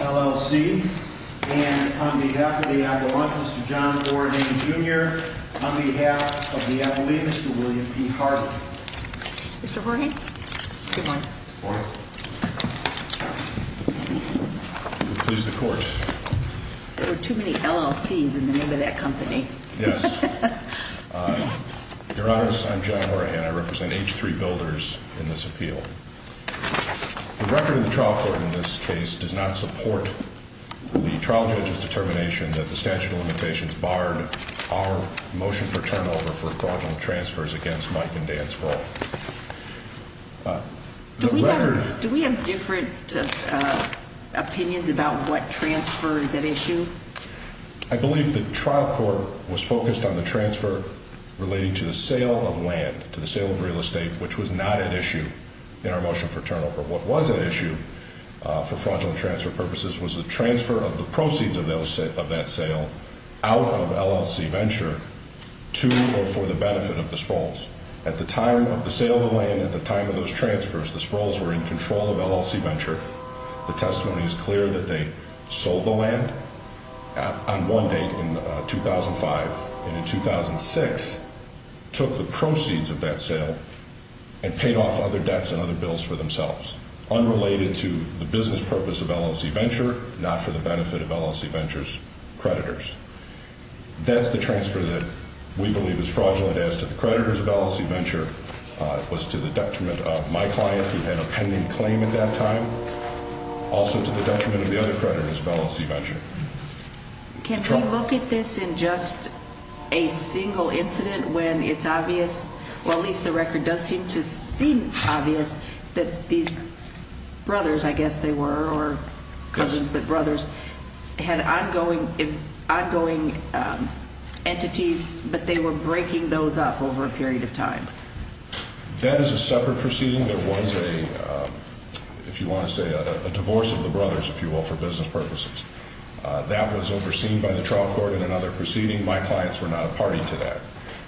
LLC and on behalf of the Avalanche, Mr. John Horgan, Jr., on behalf of the Avalanche, Mr. William P. Harvey. Mr. Horgan, good morning. Good morning. Please, the Court. There were too many LLCs in the name of that company. Yes. Your Honor, I'm John Horgan. I represent H3 Builders in this appeal. The record of the trial court in this case does not support the trial judge's determination that the statute of limitations barred our motion for turnover for fraudulent transfers against Mike and Dan's role. Do we have different opinions about what transfer is at issue? I believe the trial court was focused on the transfer relating to the sale of land, to the sale of real estate, which was not at issue in our motion for turnover. What was at issue for fraudulent transfer purposes was the transfer of the proceeds of that sale out of LLC Venture to or for the benefit of the Sproles. At the time of the sale of the land, at the time of those transfers, the Sproles were in control of LLC Venture. The testimony is clear that they sold the land on one date in 2005, and in 2006, took the proceeds of that sale and paid off other debts and other bills for themselves, unrelated to the business purpose of LLC Venture, not for the benefit of LLC Venture's creditors. That's the transfer that we believe is fraudulent as to the creditors of LLC Venture. It was to the detriment of my client, who had a pending claim at that time, also to the detriment of the other creditors of LLC Venture. Can we look at this in just a single incident when it's obvious, or at least the record does seem to seem obvious, that these brothers, I guess they were, or cousins, but brothers, had ongoing entities, but they were breaking those up over a period of time? That is a separate proceeding. There was a, if you want to say, a divorce of the brothers, if you will, for business purposes. That was overseen by the trial court in another proceeding. My clients were not a party to that.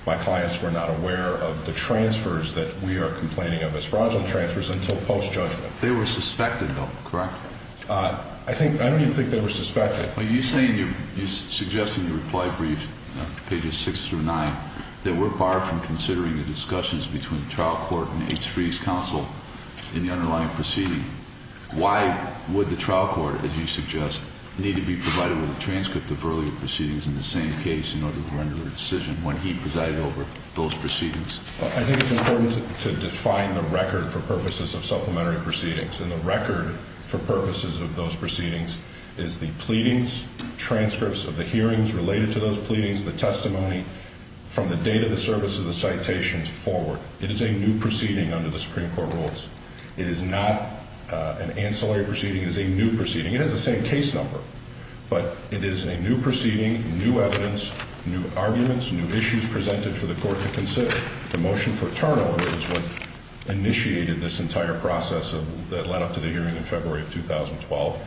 My clients were not aware of the transfers that we are complaining of as fraudulent transfers until post-judgment. They were suspected, though, correct? I don't even think they were suspected. Well, you say in your, you suggest in your reply brief, pages six through nine, that we're barred from considering the discussions between the trial court and H3's counsel in the underlying proceeding. Why would the trial court, as you suggest, need to be provided with a transcript of earlier proceedings in the same case in order to render a decision when he presided over those proceedings? I think it's important to define the record for purposes of supplementary proceedings. And the record for purposes of those proceedings is the pleadings, transcripts of the hearings related to those pleadings, the testimony from the date of the service of the citations forward. It is a new proceeding under the Supreme Court rules. It is not an ancillary proceeding. It is a new proceeding. It has the same case number. But it is a new proceeding, new evidence, new arguments, new issues presented for the court to consider. The motion for turnover is what initiated this entire process that led up to the hearing in February of 2012.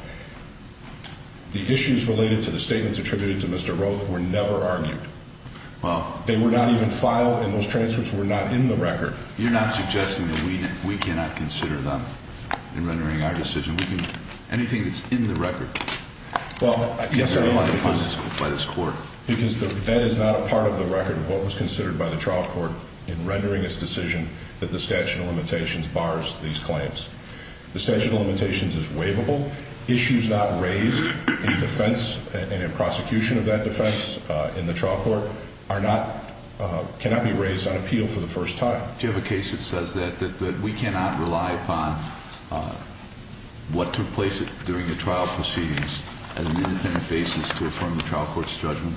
The issues related to the statements attributed to Mr. Roth were never argued. They were not even filed, and those transcripts were not in the record. You're not suggesting that we cannot consider them in rendering our decision. Anything that's in the record cannot be relied upon by this court. Because that is not a part of the record of what was considered by the trial court in rendering its decision that the statute of limitations bars these claims. The statute of limitations is waivable. Issues not raised in defense and in prosecution of that defense in the trial court cannot be raised on appeal for the first time. Do you have a case that says that we cannot rely upon what took place during the trial proceedings as an independent basis to affirm the trial court's judgment?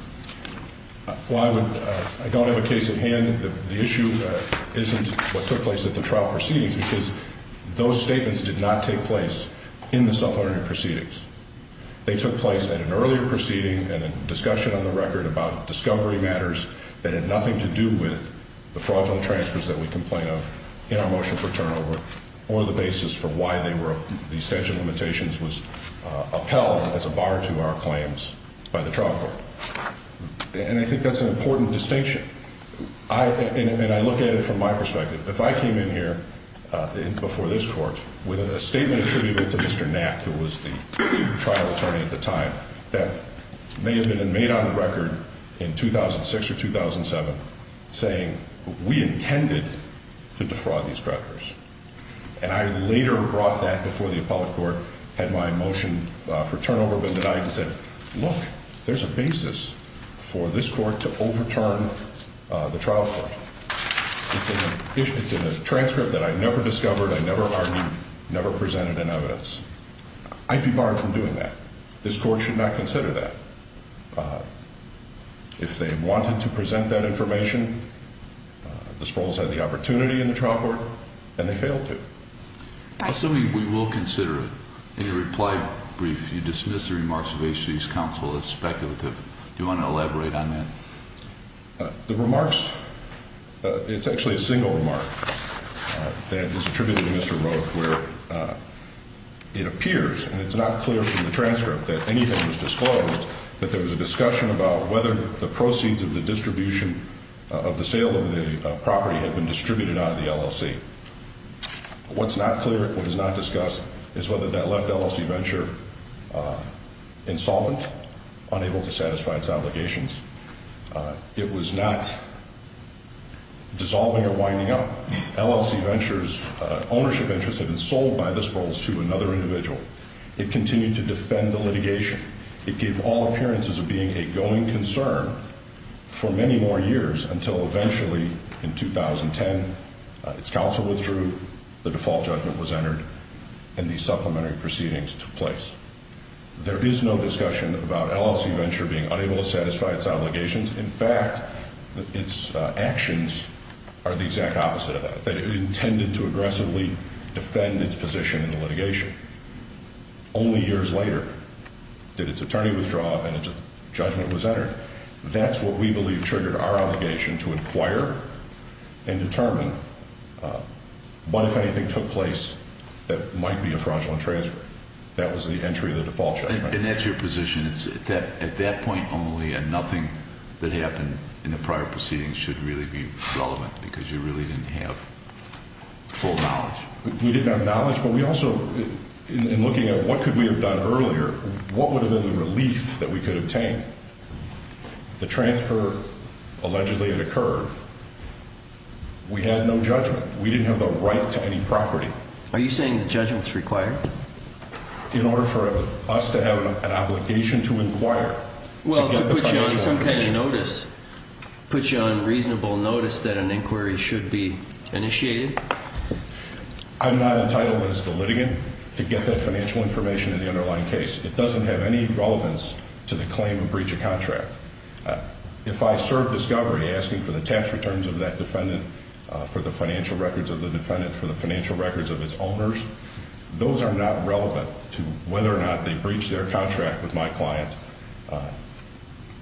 Well, I don't have a case at hand. The issue isn't what took place at the trial proceedings because those statements did not take place in the subordinated proceedings. They took place at an earlier proceeding and a discussion on the record about discovery matters that had nothing to do with the fraudulent transfers that we complain of in our motion for turnover or the basis for why the statute of limitations was upheld as a bar to our claims by the trial court. And I think that's an important distinction, and I look at it from my perspective. If I came in here before this court with a statement attributed to Mr. Knapp, who was the trial attorney at the time, that may have been made on the record in 2006 or 2007 saying, we intended to defraud these creditors. And I later brought that before the appellate court had my motion for turnover been denied and said, look, there's a basis for this court to overturn the trial court. It's in a transcript that I never discovered, I never argued, never presented in evidence. I'd be barred from doing that. This court should not consider that. If they wanted to present that information, the Sprouls had the opportunity in the trial court, and they failed to. Assuming we will consider it. In your reply brief, you dismissed the remarks of H.G.'s counsel as speculative. Do you want to elaborate on that? The remarks, it's actually a single remark that is attributed to Mr. Roth where it appears, and it's not clear from the transcript that anything was disclosed, that there was a discussion about whether the proceeds of the distribution of the sale of the property had been distributed out of the LLC. What's not clear, what is not discussed is whether that left LLC Venture insolvent, unable to satisfy its obligations. It was not dissolving or winding up. LLC Venture's ownership interest had been sold by the Sprouls to another individual. It continued to defend the litigation. It gave all appearances of being a going concern for many more years until eventually, in 2010, its counsel withdrew, the default judgment was entered, and the supplementary proceedings took place. There is no discussion about LLC Venture being unable to satisfy its obligations. In fact, its actions are the exact opposite of that, that it intended to aggressively defend its position in the litigation. Only years later did its attorney withdraw and a judgment was entered. That's what we believe triggered our obligation to inquire and determine what, if anything, took place that might be a fraudulent transfer. That was the entry of the default judgment. And that's your position, is that at that point only, and nothing that happened in the prior proceedings should really be relevant because you really didn't have full knowledge? We didn't have knowledge, but we also, in looking at what could we have done earlier, what would have been the relief that we could obtain? The transfer allegedly had occurred. We had no judgment. We didn't have the right to any property. Are you saying the judgment's required? In order for us to have an obligation to inquire. Well, to put you on some kind of notice, put you on reasonable notice that an inquiry should be initiated? I'm not entitled as the litigant to get that financial information in the underlying case. It doesn't have any relevance to the claim of breach of contract. If I serve discovery asking for the tax returns of that defendant, for the financial records of the defendant, for the financial records of its owners, those are not relevant to whether or not they breached their contract with my client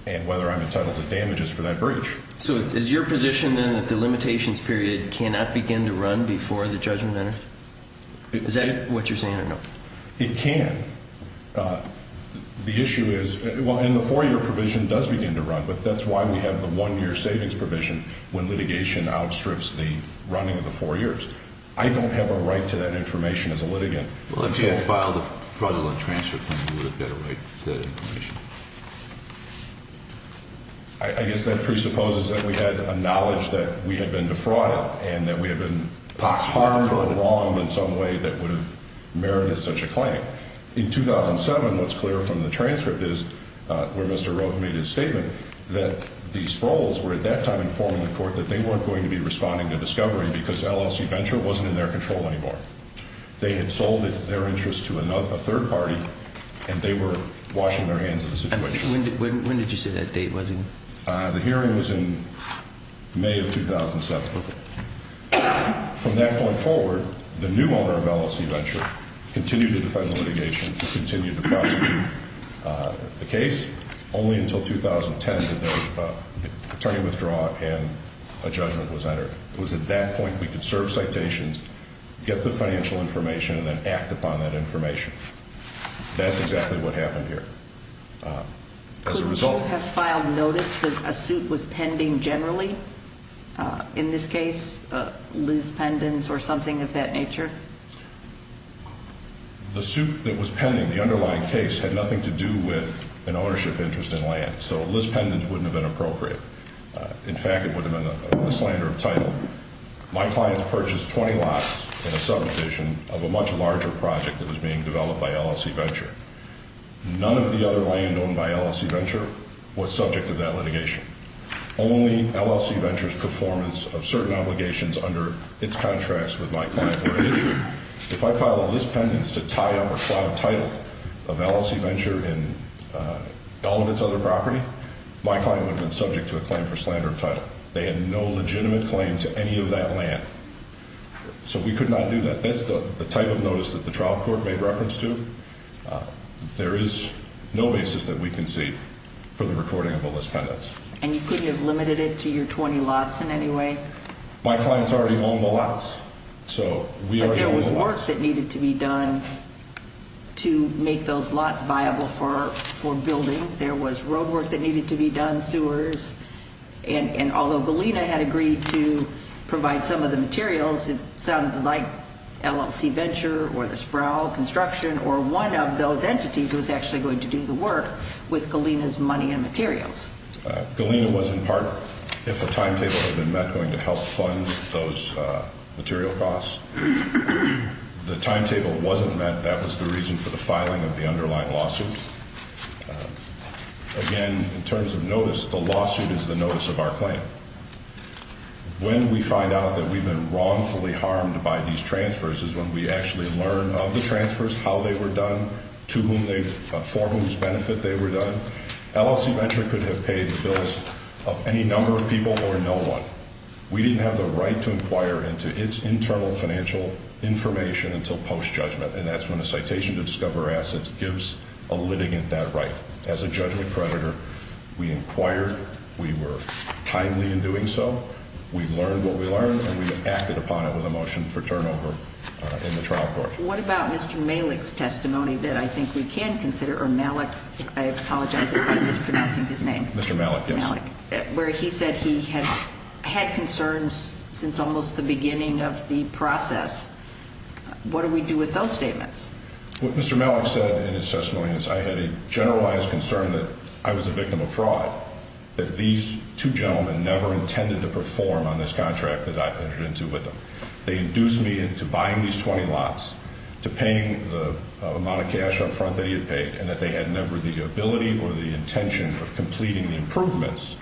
and whether I'm entitled to damages for that breach. So is your position then that the limitations period cannot begin to run before the judgment enter? Is that what you're saying or no? It can. The issue is, well, and the four-year provision does begin to run, but that's why we have the one-year savings provision when litigation outstrips the running of the four years. I don't have a right to that information as a litigant. Well, if you had filed a fraudulent transfer claim, you would have got a right to that information. I guess that presupposes that we had a knowledge that we had been defrauded and that we had been hard or wrong in some way that would have merited such a claim. In 2007, what's clear from the transcript is where Mr. Roque made his statement that the Sprouls were at that time informing the court that they weren't going to be responding to discovery because LLC Venture wasn't in their control anymore. They had sold their interest to a third party, and they were washing their hands of the situation. When did you say that date was? The hearing was in May of 2007. From that point forward, the new owner of LLC Venture continued to defend the litigation, continued to prosecute the case, only until 2010 did the attorney withdraw and a judgment was entered. It was at that point we could serve citations, get the financial information, and then act upon that information. That's exactly what happened here. Could you have filed notice that a suit was pending generally? In this case, Liz Pendens or something of that nature? The suit that was pending, the underlying case, had nothing to do with an ownership interest in land, so Liz Pendens wouldn't have been appropriate. In fact, it would have been a mislander of title. My clients purchased 20 lots in a subdivision of a much larger project that was being developed by LLC Venture. None of the other land owned by LLC Venture was subject to that litigation. Only LLC Venture's performance of certain obligations under its contracts with my client were issued. If I filed a Liz Pendens to tie up or slot a title of LLC Venture in all of its other property, my client would have been subject to a claim for slander of title. They had no legitimate claim to any of that land, so we could not do that. That's the type of notice that the trial court made reference to. There is no basis that we can see for the recording of a Liz Pendens. And you couldn't have limited it to your 20 lots in any way? My clients already own the lots, so we are doing the lots. But there was work that needed to be done to make those lots viable for building. And although Galena had agreed to provide some of the materials, it sounded like LLC Venture or the Sproul Construction or one of those entities was actually going to do the work with Galena's money and materials. Galena was, in part, if a timetable had been met, going to help fund those material costs. The timetable wasn't met. That was the reason for the filing of the underlying lawsuit. Again, in terms of notice, the lawsuit is the notice of our claim. When we find out that we've been wrongfully harmed by these transfers is when we actually learn of the transfers, how they were done, for whose benefit they were done. LLC Venture could have paid the bills of any number of people or no one. We didn't have the right to inquire into its internal financial information until post-judgment, and that's when a citation to discover assets gives a litigant that right. As a judgment predator, we inquired. We were timely in doing so. We learned what we learned, and we acted upon it with a motion for turnover in the trial court. What about Mr. Malik's testimony that I think we can consider, or Malik, I apologize if I'm mispronouncing his name? Mr. Malik, yes. Where he said he had concerns since almost the beginning of the process. What do we do with those statements? What Mr. Malik said in his testimony is I had a generalized concern that I was a victim of fraud, that these two gentlemen never intended to perform on this contract that I entered into with them. They induced me into buying these 20 lots, to paying the amount of cash up front that he had paid, and that they had never the ability or the intention of completing the improvements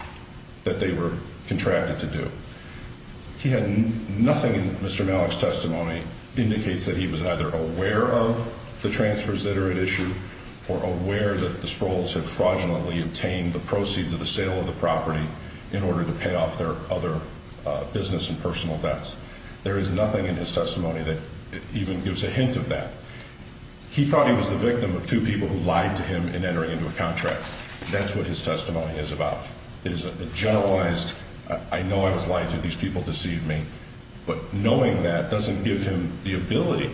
that they were contracted to do. He had nothing in Mr. Malik's testimony indicates that he was either aware of the transfers that are at issue or aware that the Sprouls had fraudulently obtained the proceeds of the sale of the property in order to pay off their other business and personal debts. There is nothing in his testimony that even gives a hint of that. He thought he was the victim of two people who lied to him in entering into a contract. That's what his testimony is about. It is a generalized, I know I was lied to, these people deceived me. But knowing that doesn't give him the ability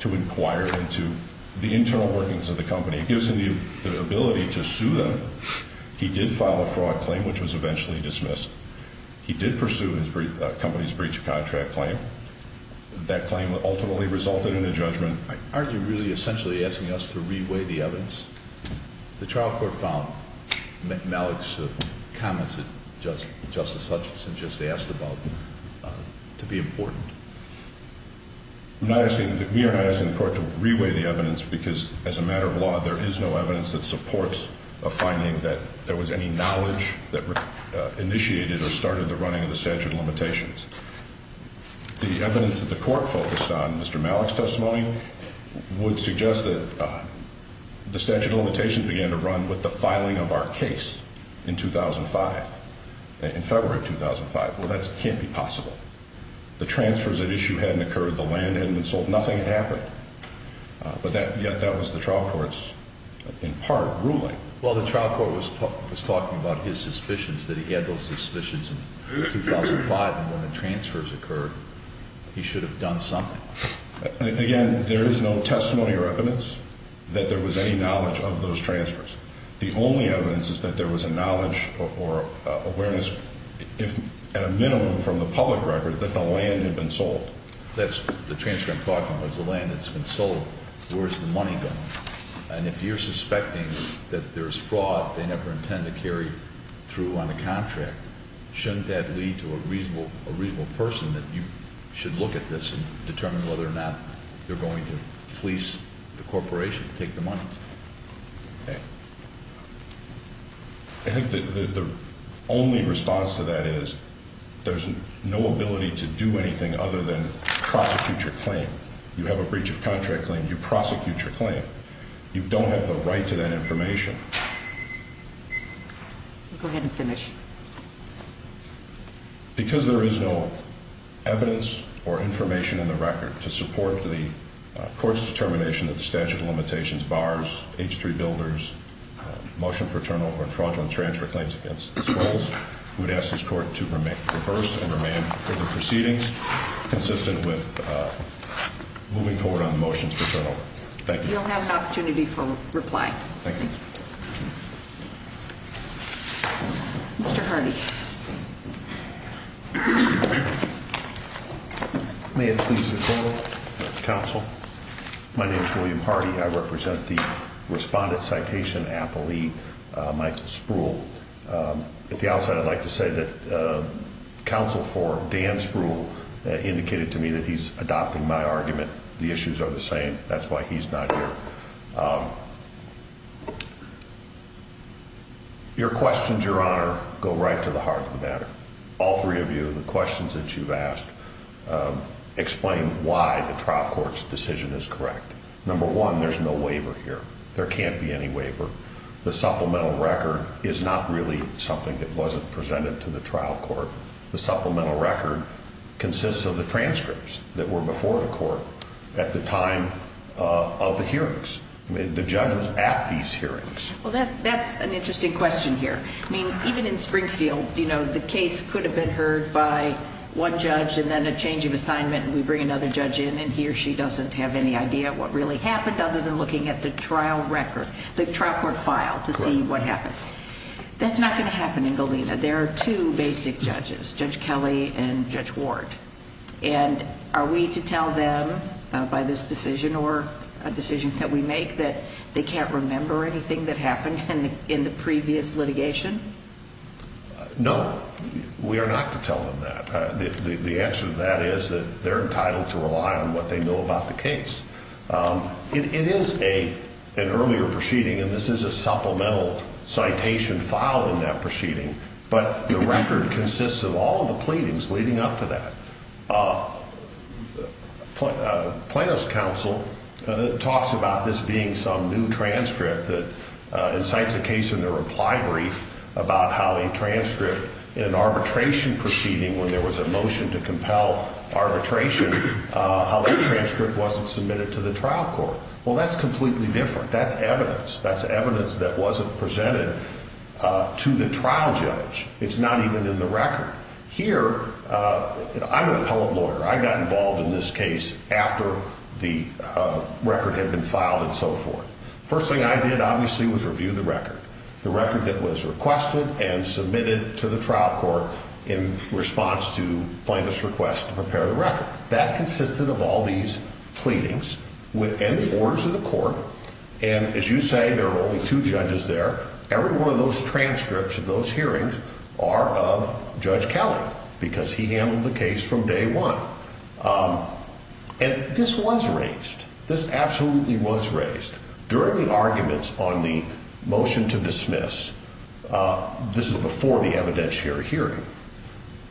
to inquire into the internal workings of the company. It gives him the ability to sue them. He did file a fraud claim, which was eventually dismissed. He did pursue his company's breach of contract claim. That claim ultimately resulted in a judgment. Aren't you really essentially asking us to reweigh the evidence? The trial court found Malik's comments that Justice Hutchinson just asked about to be important. We are not asking the court to reweigh the evidence because, as a matter of law, there is no evidence that supports a finding that there was any knowledge that initiated The evidence that the court focused on Mr. Malik's testimony would suggest that the statute of limitations began to run with the filing of our case in 2005, in February of 2005. Well, that can't be possible. The transfers at issue hadn't occurred. The land hadn't been sold. Nothing had happened. But yet that was the trial court's, in part, ruling. Well, the trial court was talking about his suspicions, that he had those suspicions in 2005 and when the transfers occurred, he should have done something. Again, there is no testimony or evidence that there was any knowledge of those transfers. The only evidence is that there was a knowledge or awareness, at a minimum from the public record, that the land had been sold. That's the transfer I'm talking about. It's the land that's been sold. Where's the money going? And if you're suspecting that there's fraud they never intend to carry through on the contract, shouldn't that lead to a reasonable person that you should look at this and determine whether or not they're going to fleece the corporation to take the money? I think the only response to that is there's no ability to do anything other than prosecute your claim. You have a breach of contract claim. You prosecute your claim. You don't have the right to that information. Go ahead and finish. Because there is no evidence or information in the record to support the court's determination that the statute of limitations bars H3 Builders' motion for turnover and fraudulent transfer claims against the Swells, we would ask this court to reverse and remain for the proceedings consistent with moving forward on the motions for turnover. Thank you. You'll have an opportunity for reply. Thank you. Mr. Hardy. May it please the Counsel? My name is William Hardy. I represent the Respondent Citation Appellee, Michael Spruill. At the outset I'd like to say that Counsel for Dan Spruill indicated to me that he's adopting my argument. The issues are the same. That's why he's not here. Your questions, Your Honor, go right to the heart of the matter. All three of you, the questions that you've asked explain why the trial court's decision is correct. Number one, there's no waiver here. There can't be any waiver. The supplemental record is not really something that wasn't presented to the trial court. The supplemental record consists of the transcripts that were before the court at the time of the hearings, the judges at these hearings. Well, that's an interesting question here. I mean, even in Springfield, you know, the case could have been heard by one judge and then a change of assignment and we bring another judge in and he or she doesn't have any idea what really happened other than looking at the trial record, the trial court file to see what happened. That's not going to happen in Galena. There are two basic judges, Judge Kelly and Judge Ward. And are we to tell them by this decision or decisions that we make that they can't remember anything that happened in the previous litigation? No, we are not to tell them that. The answer to that is that they're entitled to rely on what they know about the case. It is an earlier proceeding, and this is a supplemental citation filed in that proceeding, but the record consists of all the pleadings leading up to that. Plano's counsel talks about this being some new transcript that incites a case in their reply brief about how a transcript in an arbitration proceeding when there was a motion to compel arbitration, how that transcript wasn't submitted to the trial court. Well, that's completely different. That's evidence. That's evidence that wasn't presented to the trial judge. It's not even in the record. Here, I'm an appellate lawyer. I got involved in this case after the record had been filed and so forth. First thing I did, obviously, was review the record, the record that was requested and submitted to the trial court in response to Plano's request to prepare the record. That consisted of all these pleadings and the orders of the court. And as you say, there are only two judges there. Every one of those transcripts of those hearings are of Judge Kelly because he handled the case from day one. And this was raised. This absolutely was raised. During the arguments on the motion to dismiss, this is before the evidentiary hearing,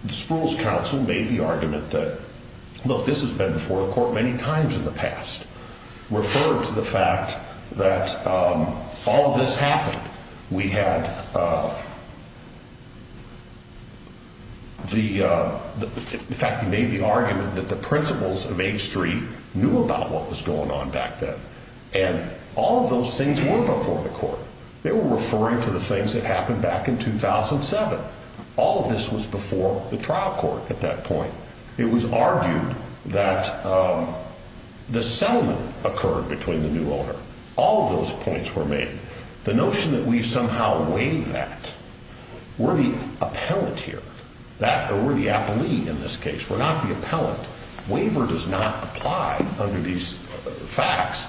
the Spruill's counsel made the argument that, look, this has been before the court many times in the past, referred to the fact that all of this happened. We had the fact that he made the argument that the principals of H3 knew about what was going on back then. And all of those things were before the court. They were referring to the things that happened back in 2007. All of this was before the trial court at that point. It was argued that the settlement occurred between the new owner. All of those points were made. The notion that we somehow waive that, we're the appellate here, or we're the appellee in this case. We're not the appellant. Waiver does not apply under these facts.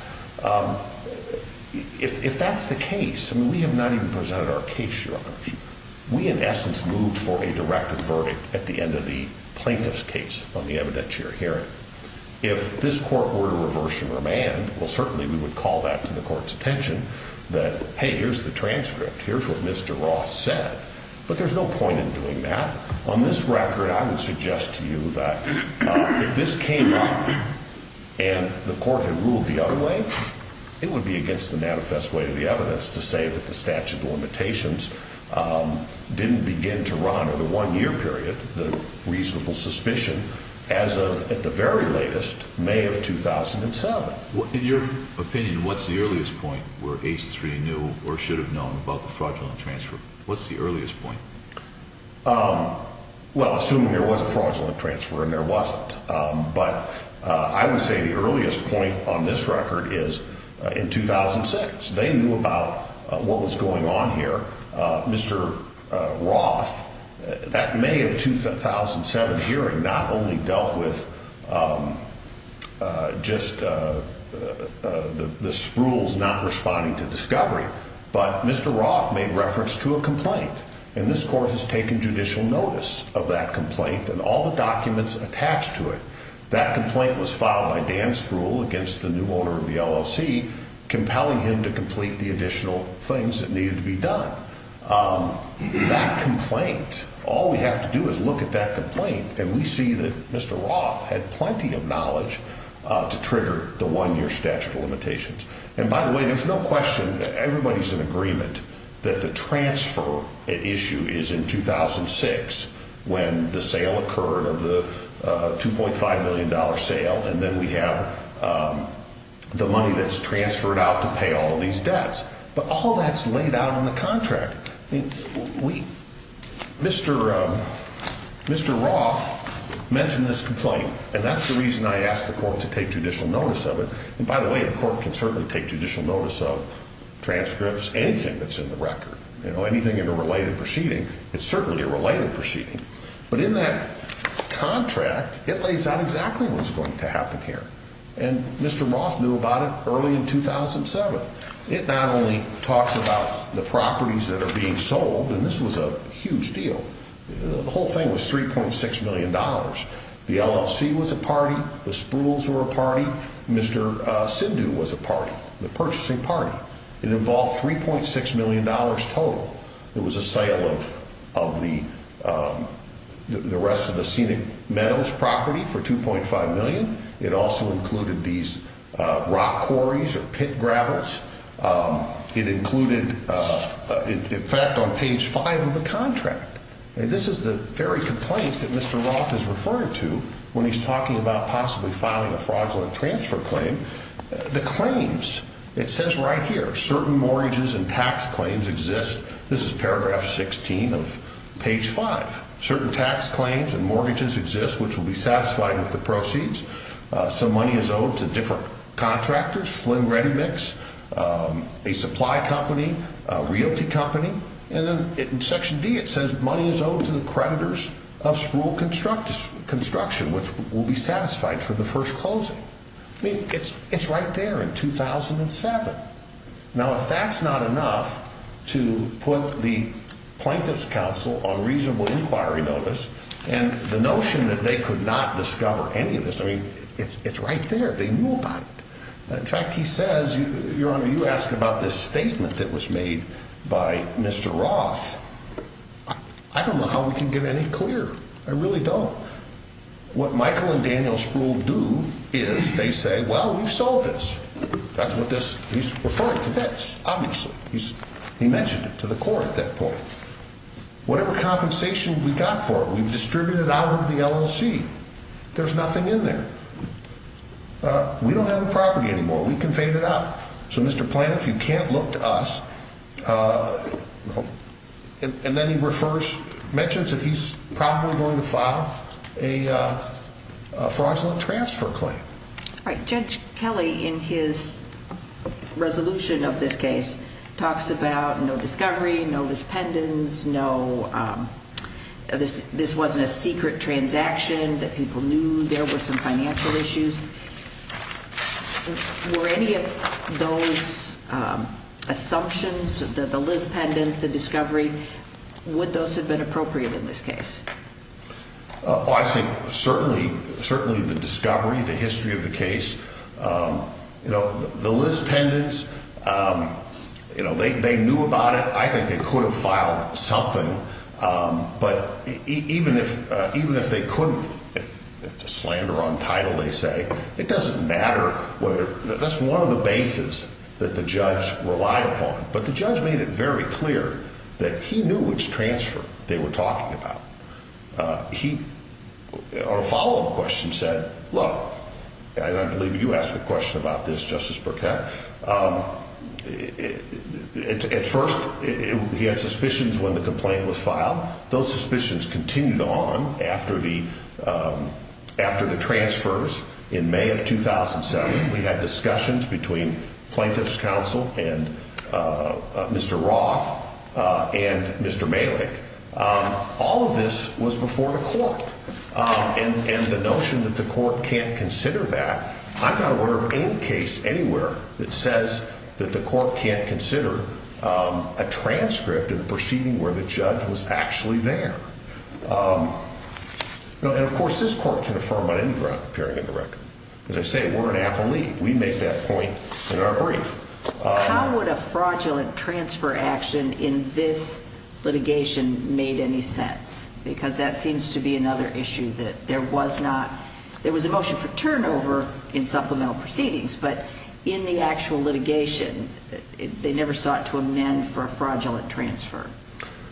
If that's the case, I mean, we have not even presented our case, Your Honor. We, in essence, moved for a directed verdict at the end of the plaintiff's case on the evidentiary hearing. If this court were to reverse and remand, well, certainly we would call that to the court's attention that, hey, here's the transcript. Here's what Mr. Ross said. But there's no point in doing that. On this record, I would suggest to you that if this came up and the court had ruled the other way, it would be against the manifest way of the evidence to say that the statute of limitations didn't begin to run over the one-year period, the reasonable suspicion, as of at the very latest, May of 2007. In your opinion, what's the earliest point where H3 knew or should have known about the fraudulent transfer? What's the earliest point? Well, assuming there was a fraudulent transfer, and there wasn't. But I would say the earliest point on this record is in 2006. They knew about what was going on here. Mr. Roth, that May of 2007 hearing not only dealt with just the sprules not responding to discovery, and this court has taken judicial notice of that complaint and all the documents attached to it. That complaint was filed by Dan Spruill against the new owner of the LLC, compelling him to complete the additional things that needed to be done. That complaint, all we have to do is look at that complaint, and we see that Mr. Roth had plenty of knowledge to trigger the one-year statute of limitations. And by the way, there's no question that everybody's in agreement that the transfer issue is in 2006, when the sale occurred of the $2.5 million sale, and then we have the money that's transferred out to pay all these debts. But all that's laid out in the contract. Mr. Roth mentioned this complaint, and that's the reason I asked the court to take judicial notice of it. And by the way, the court can certainly take judicial notice of transcripts, anything that's in the record, anything in a related proceeding. It's certainly a related proceeding. But in that contract, it lays out exactly what's going to happen here, and Mr. Roth knew about it early in 2007. It not only talks about the properties that are being sold, and this was a huge deal. The whole thing was $3.6 million. The LLC was a party. The Sprules were a party. Mr. Sindhu was a party, the purchasing party. It involved $3.6 million total. It was a sale of the rest of the Scenic Meadows property for $2.5 million. It also included these rock quarries or pit gravels. It included, in fact, on page 5 of the contract. This is the very complaint that Mr. Roth is referring to when he's talking about possibly filing a fraudulent transfer claim. The claims, it says right here, certain mortgages and tax claims exist. This is paragraph 16 of page 5. Certain tax claims and mortgages exist which will be satisfied with the proceeds. Some money is owed to different contractors, Flynn Ready Mix, a supply company, a realty company. And then in section D, it says money is owed to the creditors of Sprule Construction, which will be satisfied for the first closing. I mean, it's right there in 2007. Now, if that's not enough to put the Plaintiff's Counsel on reasonable inquiry notice, and the notion that they could not discover any of this, I mean, it's right there. They knew about it. In fact, he says, Your Honor, you asked about this statement that was made by Mr. Roth. I don't know how we can get any clearer. I really don't. What Michael and Daniel Sprule do is they say, well, we've solved this. That's what this he's referring to. That's obviously he's he mentioned it to the court at that point. Whatever compensation we got for it, we distributed out of the LLC. There's nothing in there. We don't have a property anymore. We can pay that up. So, Mr. Plaintiff, you can't look to us. And then he refers mentions that he's probably going to file a fraudulent transfer claim. All right. Judge Kelly, in his resolution of this case, talks about no discovery, no this pendants, no this. This wasn't a secret transaction that people knew there were some financial issues. Were any of those assumptions that the Liz pendants, the discovery, would those have been appropriate in this case? I think certainly, certainly the discovery, the history of the case, you know, the Liz pendants, you know, they knew about it. I think they could have filed something. But even if even if they couldn't, it's a slander on title. They say it doesn't matter whether that's one of the bases that the judge relied upon. But the judge made it very clear that he knew which transfer they were talking about. He or a follow up question said, look, I believe you asked a question about this, Justice Burkett. At first, he had suspicions when the complaint was filed. Those suspicions continued on after the after the transfers. In May of 2007, we had discussions between plaintiff's counsel and Mr. Roth and Mr. Malik. All of this was before the court and the notion that the court can't consider that. I'm not aware of any case anywhere that says that the court can't consider a transcript of the proceeding where the judge was actually there. And of course, this court can affirm on any ground appearing in the record. As I say, we're an athlete. We make that point in our brief. How would a fraudulent transfer action in this litigation made any sense? Because that seems to be another issue that there was not. There was a motion for turnover in supplemental proceedings, but in the actual litigation, they never sought to amend for a fraudulent transfer.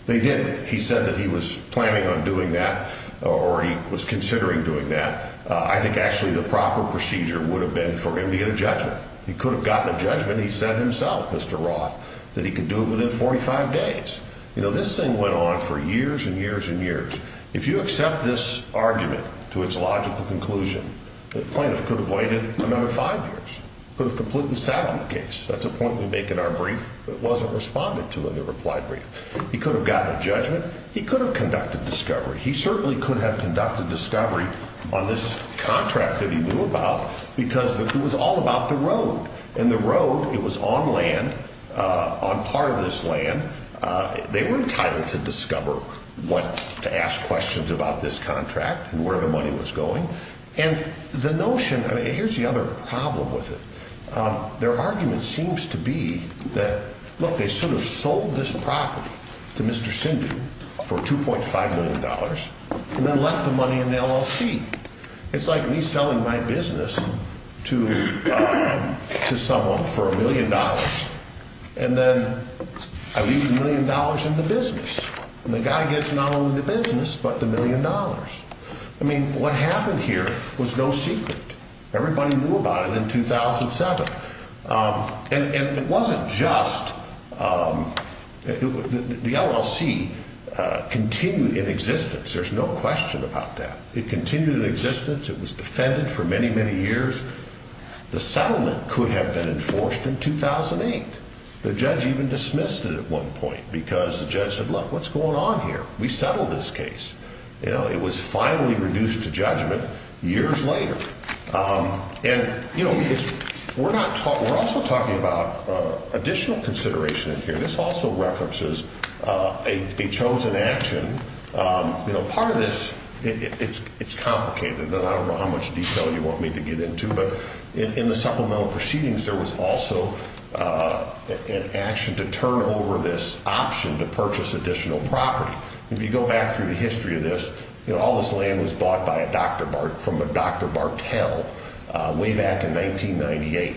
They did. He said that he was planning on doing that or he was considering doing that. I think actually the proper procedure would have been for him to get a judgment. He could have gotten a judgment. He said himself, Mr. Roth, that he could do it within 45 days. You know, this thing went on for years and years and years. If you accept this argument to its logical conclusion, the plaintiff could have waited another five years, could have completely sat on the case. That's a point we make in our brief that wasn't responded to in the reply brief. He could have gotten a judgment. He could have conducted discovery. He certainly could have conducted discovery on this contract that he knew about because it was all about the road and the road. It was on land on part of this land. They were entitled to discover what to ask questions about this contract and where the money was going. And the notion here's the other problem with it. Their argument seems to be that, look, they should have sold this property to Mr. Sindhu for two point five million dollars and then left the money in the LLC. It's like me selling my business to someone for a million dollars. And then I leave a million dollars in the business. And the guy gets not only the business, but the million dollars. I mean, what happened here was no secret. Everybody knew about it in 2007. And it wasn't just the LLC continued in existence. There's no question about that. It continued in existence. It was defended for many, many years. The settlement could have been enforced in 2008. The judge even dismissed it at one point because the judge said, look, what's going on here? We settled this case. You know, it was finally reduced to judgment years later. And, you know, we're not taught. We're also talking about additional consideration in here. This also references a chosen action. You know, part of this, it's it's complicated. And I don't know how much detail you want me to get into. But in the supplemental proceedings, there was also an action to turn over this option to purchase additional property. If you go back through the history of this, you know, all this land was bought by a doctor from Dr. Bartel way back in 1998.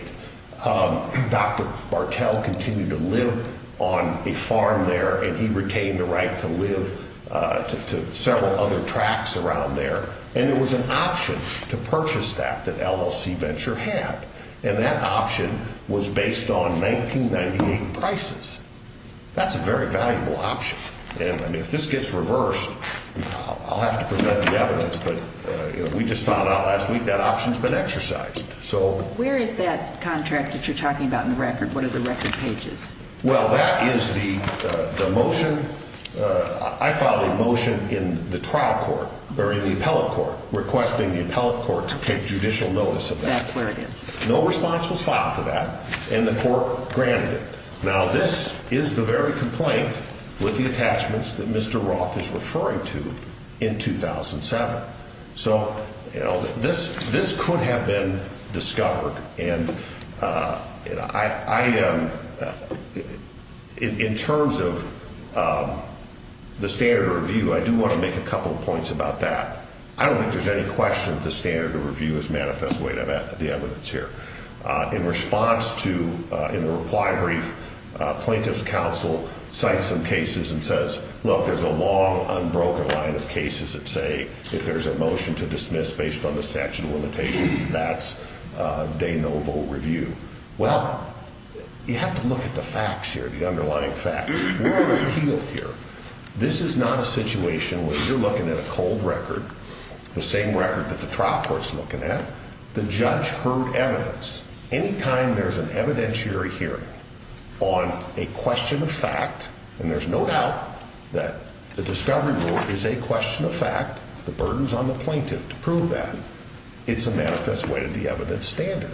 Dr. Bartel continued to live on a farm there, and he retained the right to live to several other tracks around there. And it was an option to purchase that that LLC venture had. And that option was based on 1998 prices. That's a very valuable option. And if this gets reversed, I'll have to present the evidence. But we just found out last week that options been exercised. So where is that contract that you're talking about in the record? What are the record pages? Well, that is the motion. I filed a motion in the trial court during the appellate court requesting the appellate court to take judicial notice of that. That's where it is. No response was filed to that. And the court granted it. Now, this is the very complaint with the attachments that Mr. Roth is referring to in 2007. So, you know, this this could have been discovered. And I am in terms of the standard review. I do want to make a couple of points about that. I don't think there's any question that the standard review is manifest way to the evidence here. In response to in the reply brief, plaintiff's counsel cite some cases and says, look, there's a long, unbroken line of cases that say if there's a motion to dismiss based on the statute of limitations, that's de novo review. Well, you have to look at the facts here, the underlying facts here. This is not a situation where you're looking at a cold record. The same record that the trial court is looking at. The judge heard evidence. Any time there's an evidentiary hearing on a question of fact, and there's no doubt that the discovery is a question of fact. The burdens on the plaintiff to prove that it's a manifest way to the evidence standard.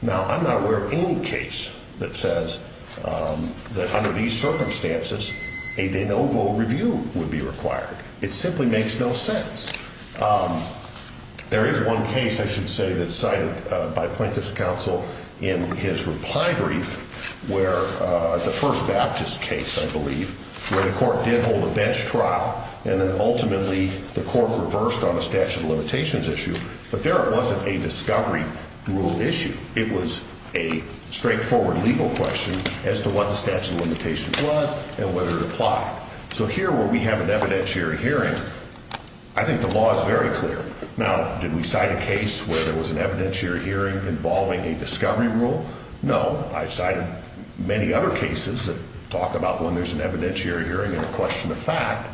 Now, I'm not aware of any case that says that under these circumstances, a de novo review would be required. It simply makes no sense. There is one case, I should say, that cited by plaintiff's counsel in his reply brief where the first Baptist case, I believe, where the court did hold a bench trial. And then ultimately the court reversed on a statute of limitations issue. But there wasn't a discovery rule issue. It was a straightforward legal question as to what the statute of limitations was and whether it applied. So here where we have an evidentiary hearing, I think the law is very clear. Now, did we cite a case where there was an evidentiary hearing involving a discovery rule? No, I cited many other cases that talk about when there's an evidentiary hearing and a question of fact,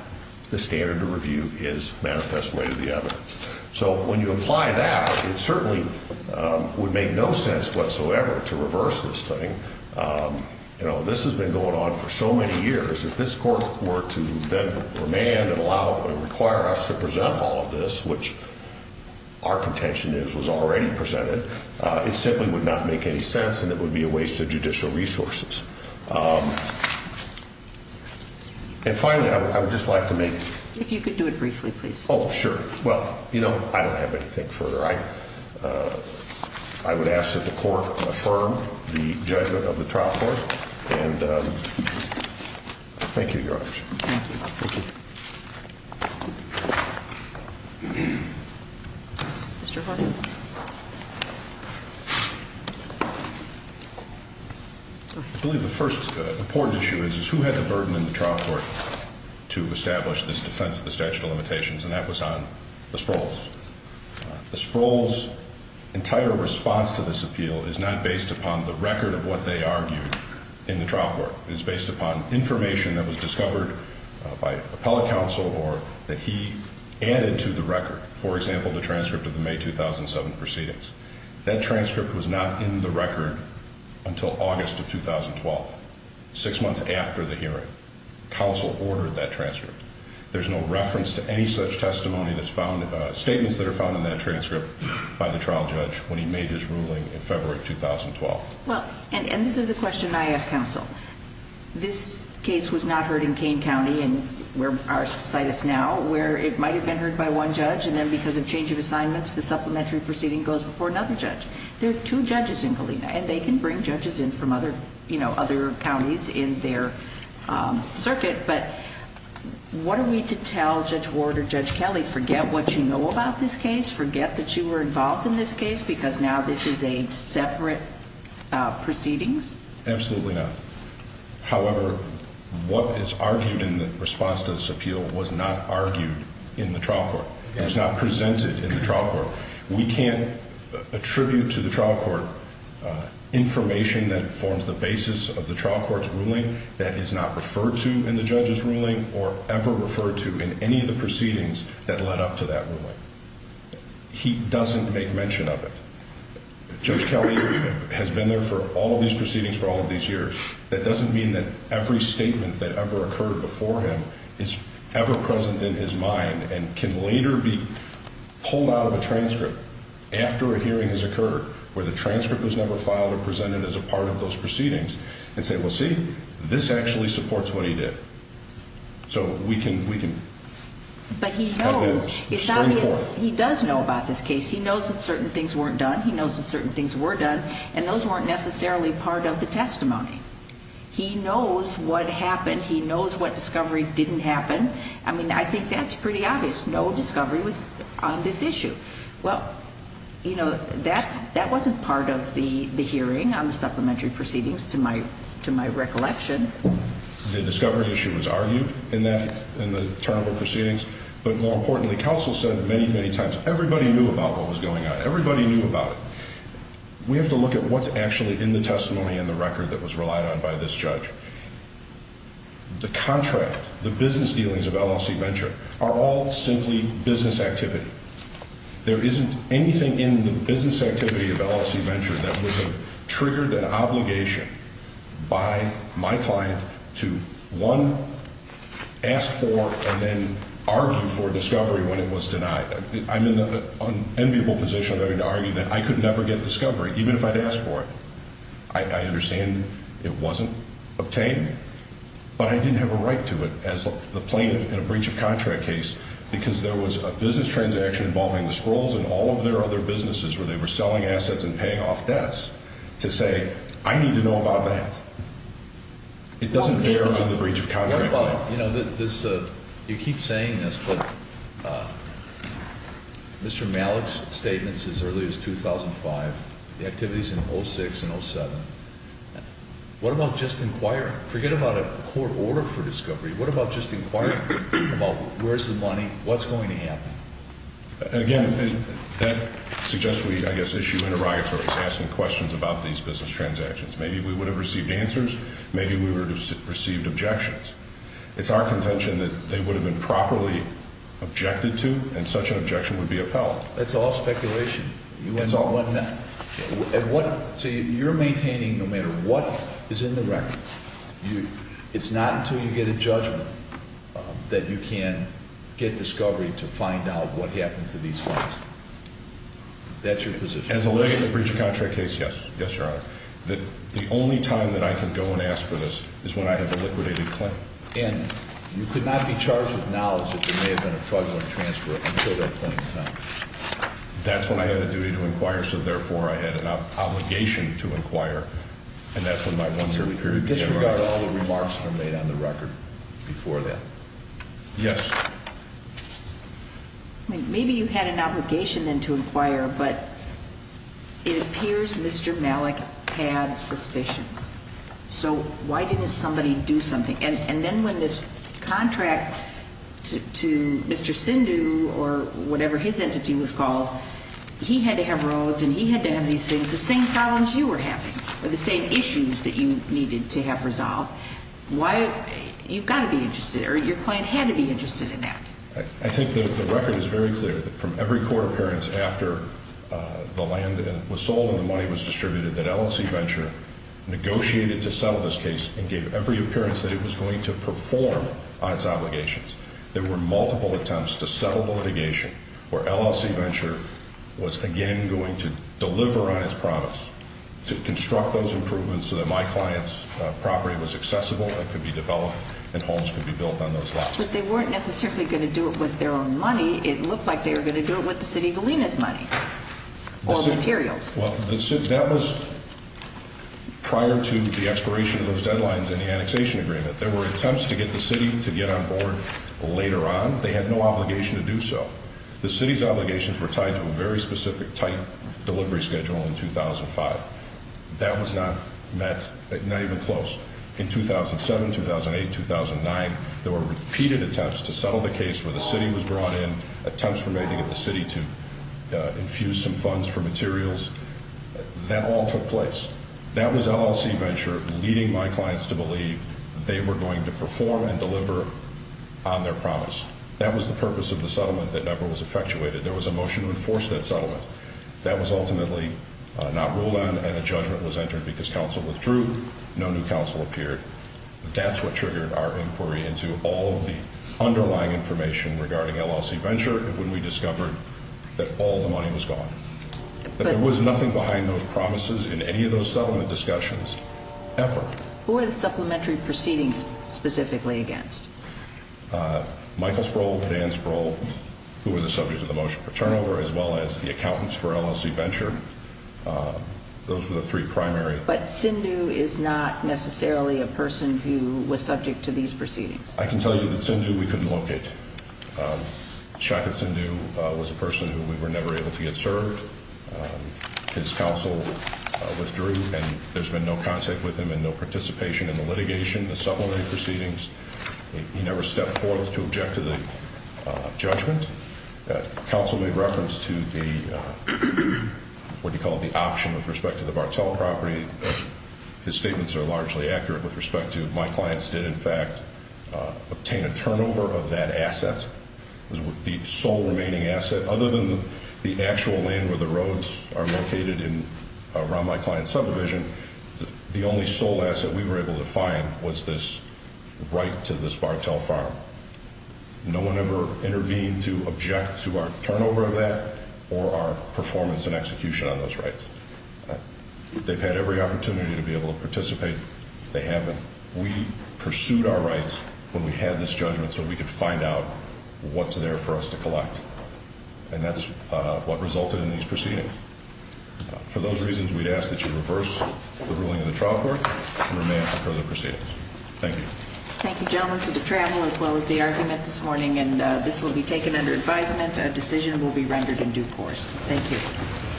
the standard of review is manifest way to the evidence. So when you apply that, it certainly would make no sense whatsoever to reverse this thing. You know, this has been going on for so many years. If this court were to demand and allow and require us to present all of this, which our contention is was already presented, it simply would not make any sense. And it would be a waste of judicial resources. And finally, I would just like to make. If you could do it briefly, please. Oh, sure. Well, you know, I don't have anything further. I would ask that the court affirm the judgment of the trial court. And thank you. I believe the first important issue is who had the burden in the trial court to establish this defense of the statute of limitations. And that was on the Sproles. The Sproles' entire response to this appeal is not based upon the record of what they argued in the trial court. It is based upon information that was discovered by appellate counsel or that he added to the record. For example, the transcript of the May 2007 proceedings. That transcript was not in the record until August of 2012, six months after the hearing. Counsel ordered that transcript. There's no reference to any such testimony that's found, statements that are found in that transcript by the trial judge when he made his ruling in February 2012. Well, and this is a question I ask counsel. This case was not heard in Kane County and where our site is now, where it might have been heard by one judge. And then because of change of assignments, the supplementary proceeding goes before another judge. There are two judges in Galena. And they can bring judges in from other, you know, other counties in their circuit. But what are we to tell Judge Ward or Judge Kelly? Forget what you know about this case. Forget that you were involved in this case because now this is a separate proceedings? Absolutely not. However, what is argued in the response to this appeal was not argued in the trial court. It was not presented in the trial court. We can't attribute to the trial court information that forms the basis of the trial court's ruling that is not referred to in the judge's ruling or ever referred to in any of the proceedings that led up to that ruling. He doesn't make mention of it. Judge Kelly has been there for all of these proceedings for all of these years. That doesn't mean that every statement that ever occurred before him is ever present in his mind and can later be pulled out of a transcript after a hearing has occurred where the transcript was never filed or presented as a part of those proceedings and say, well, see, this actually supports what he did. So we can have that spring forward. But he knows. It's obvious he does know about this case. He knows that certain things weren't done. He knows that certain things were done, and those weren't necessarily part of the testimony. He knows what happened. He knows what discovery didn't happen. I mean, I think that's pretty obvious. No discovery was on this issue. Well, you know, that wasn't part of the hearing on the supplementary proceedings, to my recollection. The discovery issue was argued in the turn of the proceedings. But more importantly, counsel said many, many times everybody knew about what was going on. Everybody knew about it. We have to look at what's actually in the testimony and the record that was relied on by this judge. The contract, the business dealings of LLC Venture are all simply business activity. There isn't anything in the business activity of LLC Venture that would have triggered an obligation by my client to, one, ask for and then argue for discovery when it was denied. I'm in an enviable position of having to argue that I could never get discovery, even if I'd asked for it. I understand it wasn't obtained. But I didn't have a right to it as the plaintiff in a breach of contract case because there was a business transaction involving the Scrolls and all of their other businesses where they were selling assets and paying off debts to say, I need to know about that. It doesn't bear on the breach of contract claim. Now, you keep saying this, but Mr. Malik's statements as early as 2005, the activities in 06 and 07. What about just inquiring? Forget about a court order for discovery. What about just inquiring about where's the money, what's going to happen? Again, that suggests we, I guess, issue interrogatories, asking questions about these business transactions. Maybe we would have received answers. Maybe we would have received objections. It's our contention that they would have been properly objected to, and such an objection would be upheld. That's all speculation. So you're maintaining no matter what is in the record. It's not until you get a judgment that you can get discovery to find out what happened to these funds. That's your position. As a lawyer in the breach of contract case, yes, yes, Your Honor. The only time that I can go and ask for this is when I have a liquidated claim. And you could not be charged with knowledge if there may have been a fraudulent transfer until that point in time? That's when I had a duty to inquire, so therefore I had an obligation to inquire, and that's when my one-year period began. So you disregard all the remarks that were made on the record before that? Yes. Maybe you had an obligation then to inquire, but it appears Mr. Malik had suspicions. So why didn't somebody do something? And then when this contract to Mr. Sindhu or whatever his entity was called, he had to have roads and he had to have these things, the same problems you were having or the same issues that you needed to have resolved. You've got to be interested, or your client had to be interested in that. I think the record is very clear that from every court appearance after the land was sold and the money was distributed, that LLC Venture negotiated to settle this case and gave every appearance that it was going to perform on its obligations. There were multiple attempts to settle the litigation where LLC Venture was again going to deliver on its promise to construct those improvements so that my client's property was accessible and could be developed and homes could be built on those lots. But they weren't necessarily going to do it with their own money. It looked like they were going to do it with the City of Galena's money or materials. Well, that was prior to the expiration of those deadlines in the annexation agreement. There were attempts to get the City to get on board later on. They had no obligation to do so. The City's obligations were tied to a very specific, tight delivery schedule in 2005. That was not even close. In 2007, 2008, 2009, there were repeated attempts to settle the case where the City was brought in, attempts for me to get the City to infuse some funds for materials. That all took place. That was LLC Venture leading my clients to believe they were going to perform and deliver on their promise. That was the purpose of the settlement that never was effectuated. There was a motion to enforce that settlement. That was ultimately not ruled on and a judgment was entered because counsel withdrew. No new counsel appeared. That's what triggered our inquiry into all of the underlying information regarding LLC Venture when we discovered that all the money was gone, that there was nothing behind those promises in any of those settlement discussions ever. Who were the supplementary proceedings specifically against? Michael Sproul and Ann Sproul, who were the subject of the motion for turnover, as well as the accountants for LLC Venture. Those were the three primary. But Sindhu is not necessarily a person who was subject to these proceedings. I can tell you that Sindhu we couldn't locate. Chackat Sindhu was a person who we were never able to get served. His counsel withdrew, and there's been no contact with him and no participation in the litigation, the supplementary proceedings. He never stepped forth to object to the judgment. Counsel made reference to the, what do you call it, the option with respect to the Bartell property. His statements are largely accurate with respect to my clients did in fact obtain a turnover of that asset. It was the sole remaining asset. Other than the actual land where the roads are located around my client's subdivision, the only sole asset we were able to find was this right to this Bartell farm. No one ever intervened to object to our turnover of that or our performance and execution on those rights. They've had every opportunity to be able to participate. They haven't. We pursued our rights when we had this judgment so we could find out what's there for us to collect. And that's what resulted in these proceedings. For those reasons, we'd ask that you reverse the ruling of the trial court and remain for further proceedings. Thank you. Thank you, gentlemen, for the travel as well as the argument this morning. And this will be taken under advisement. A decision will be rendered in due course. Thank you.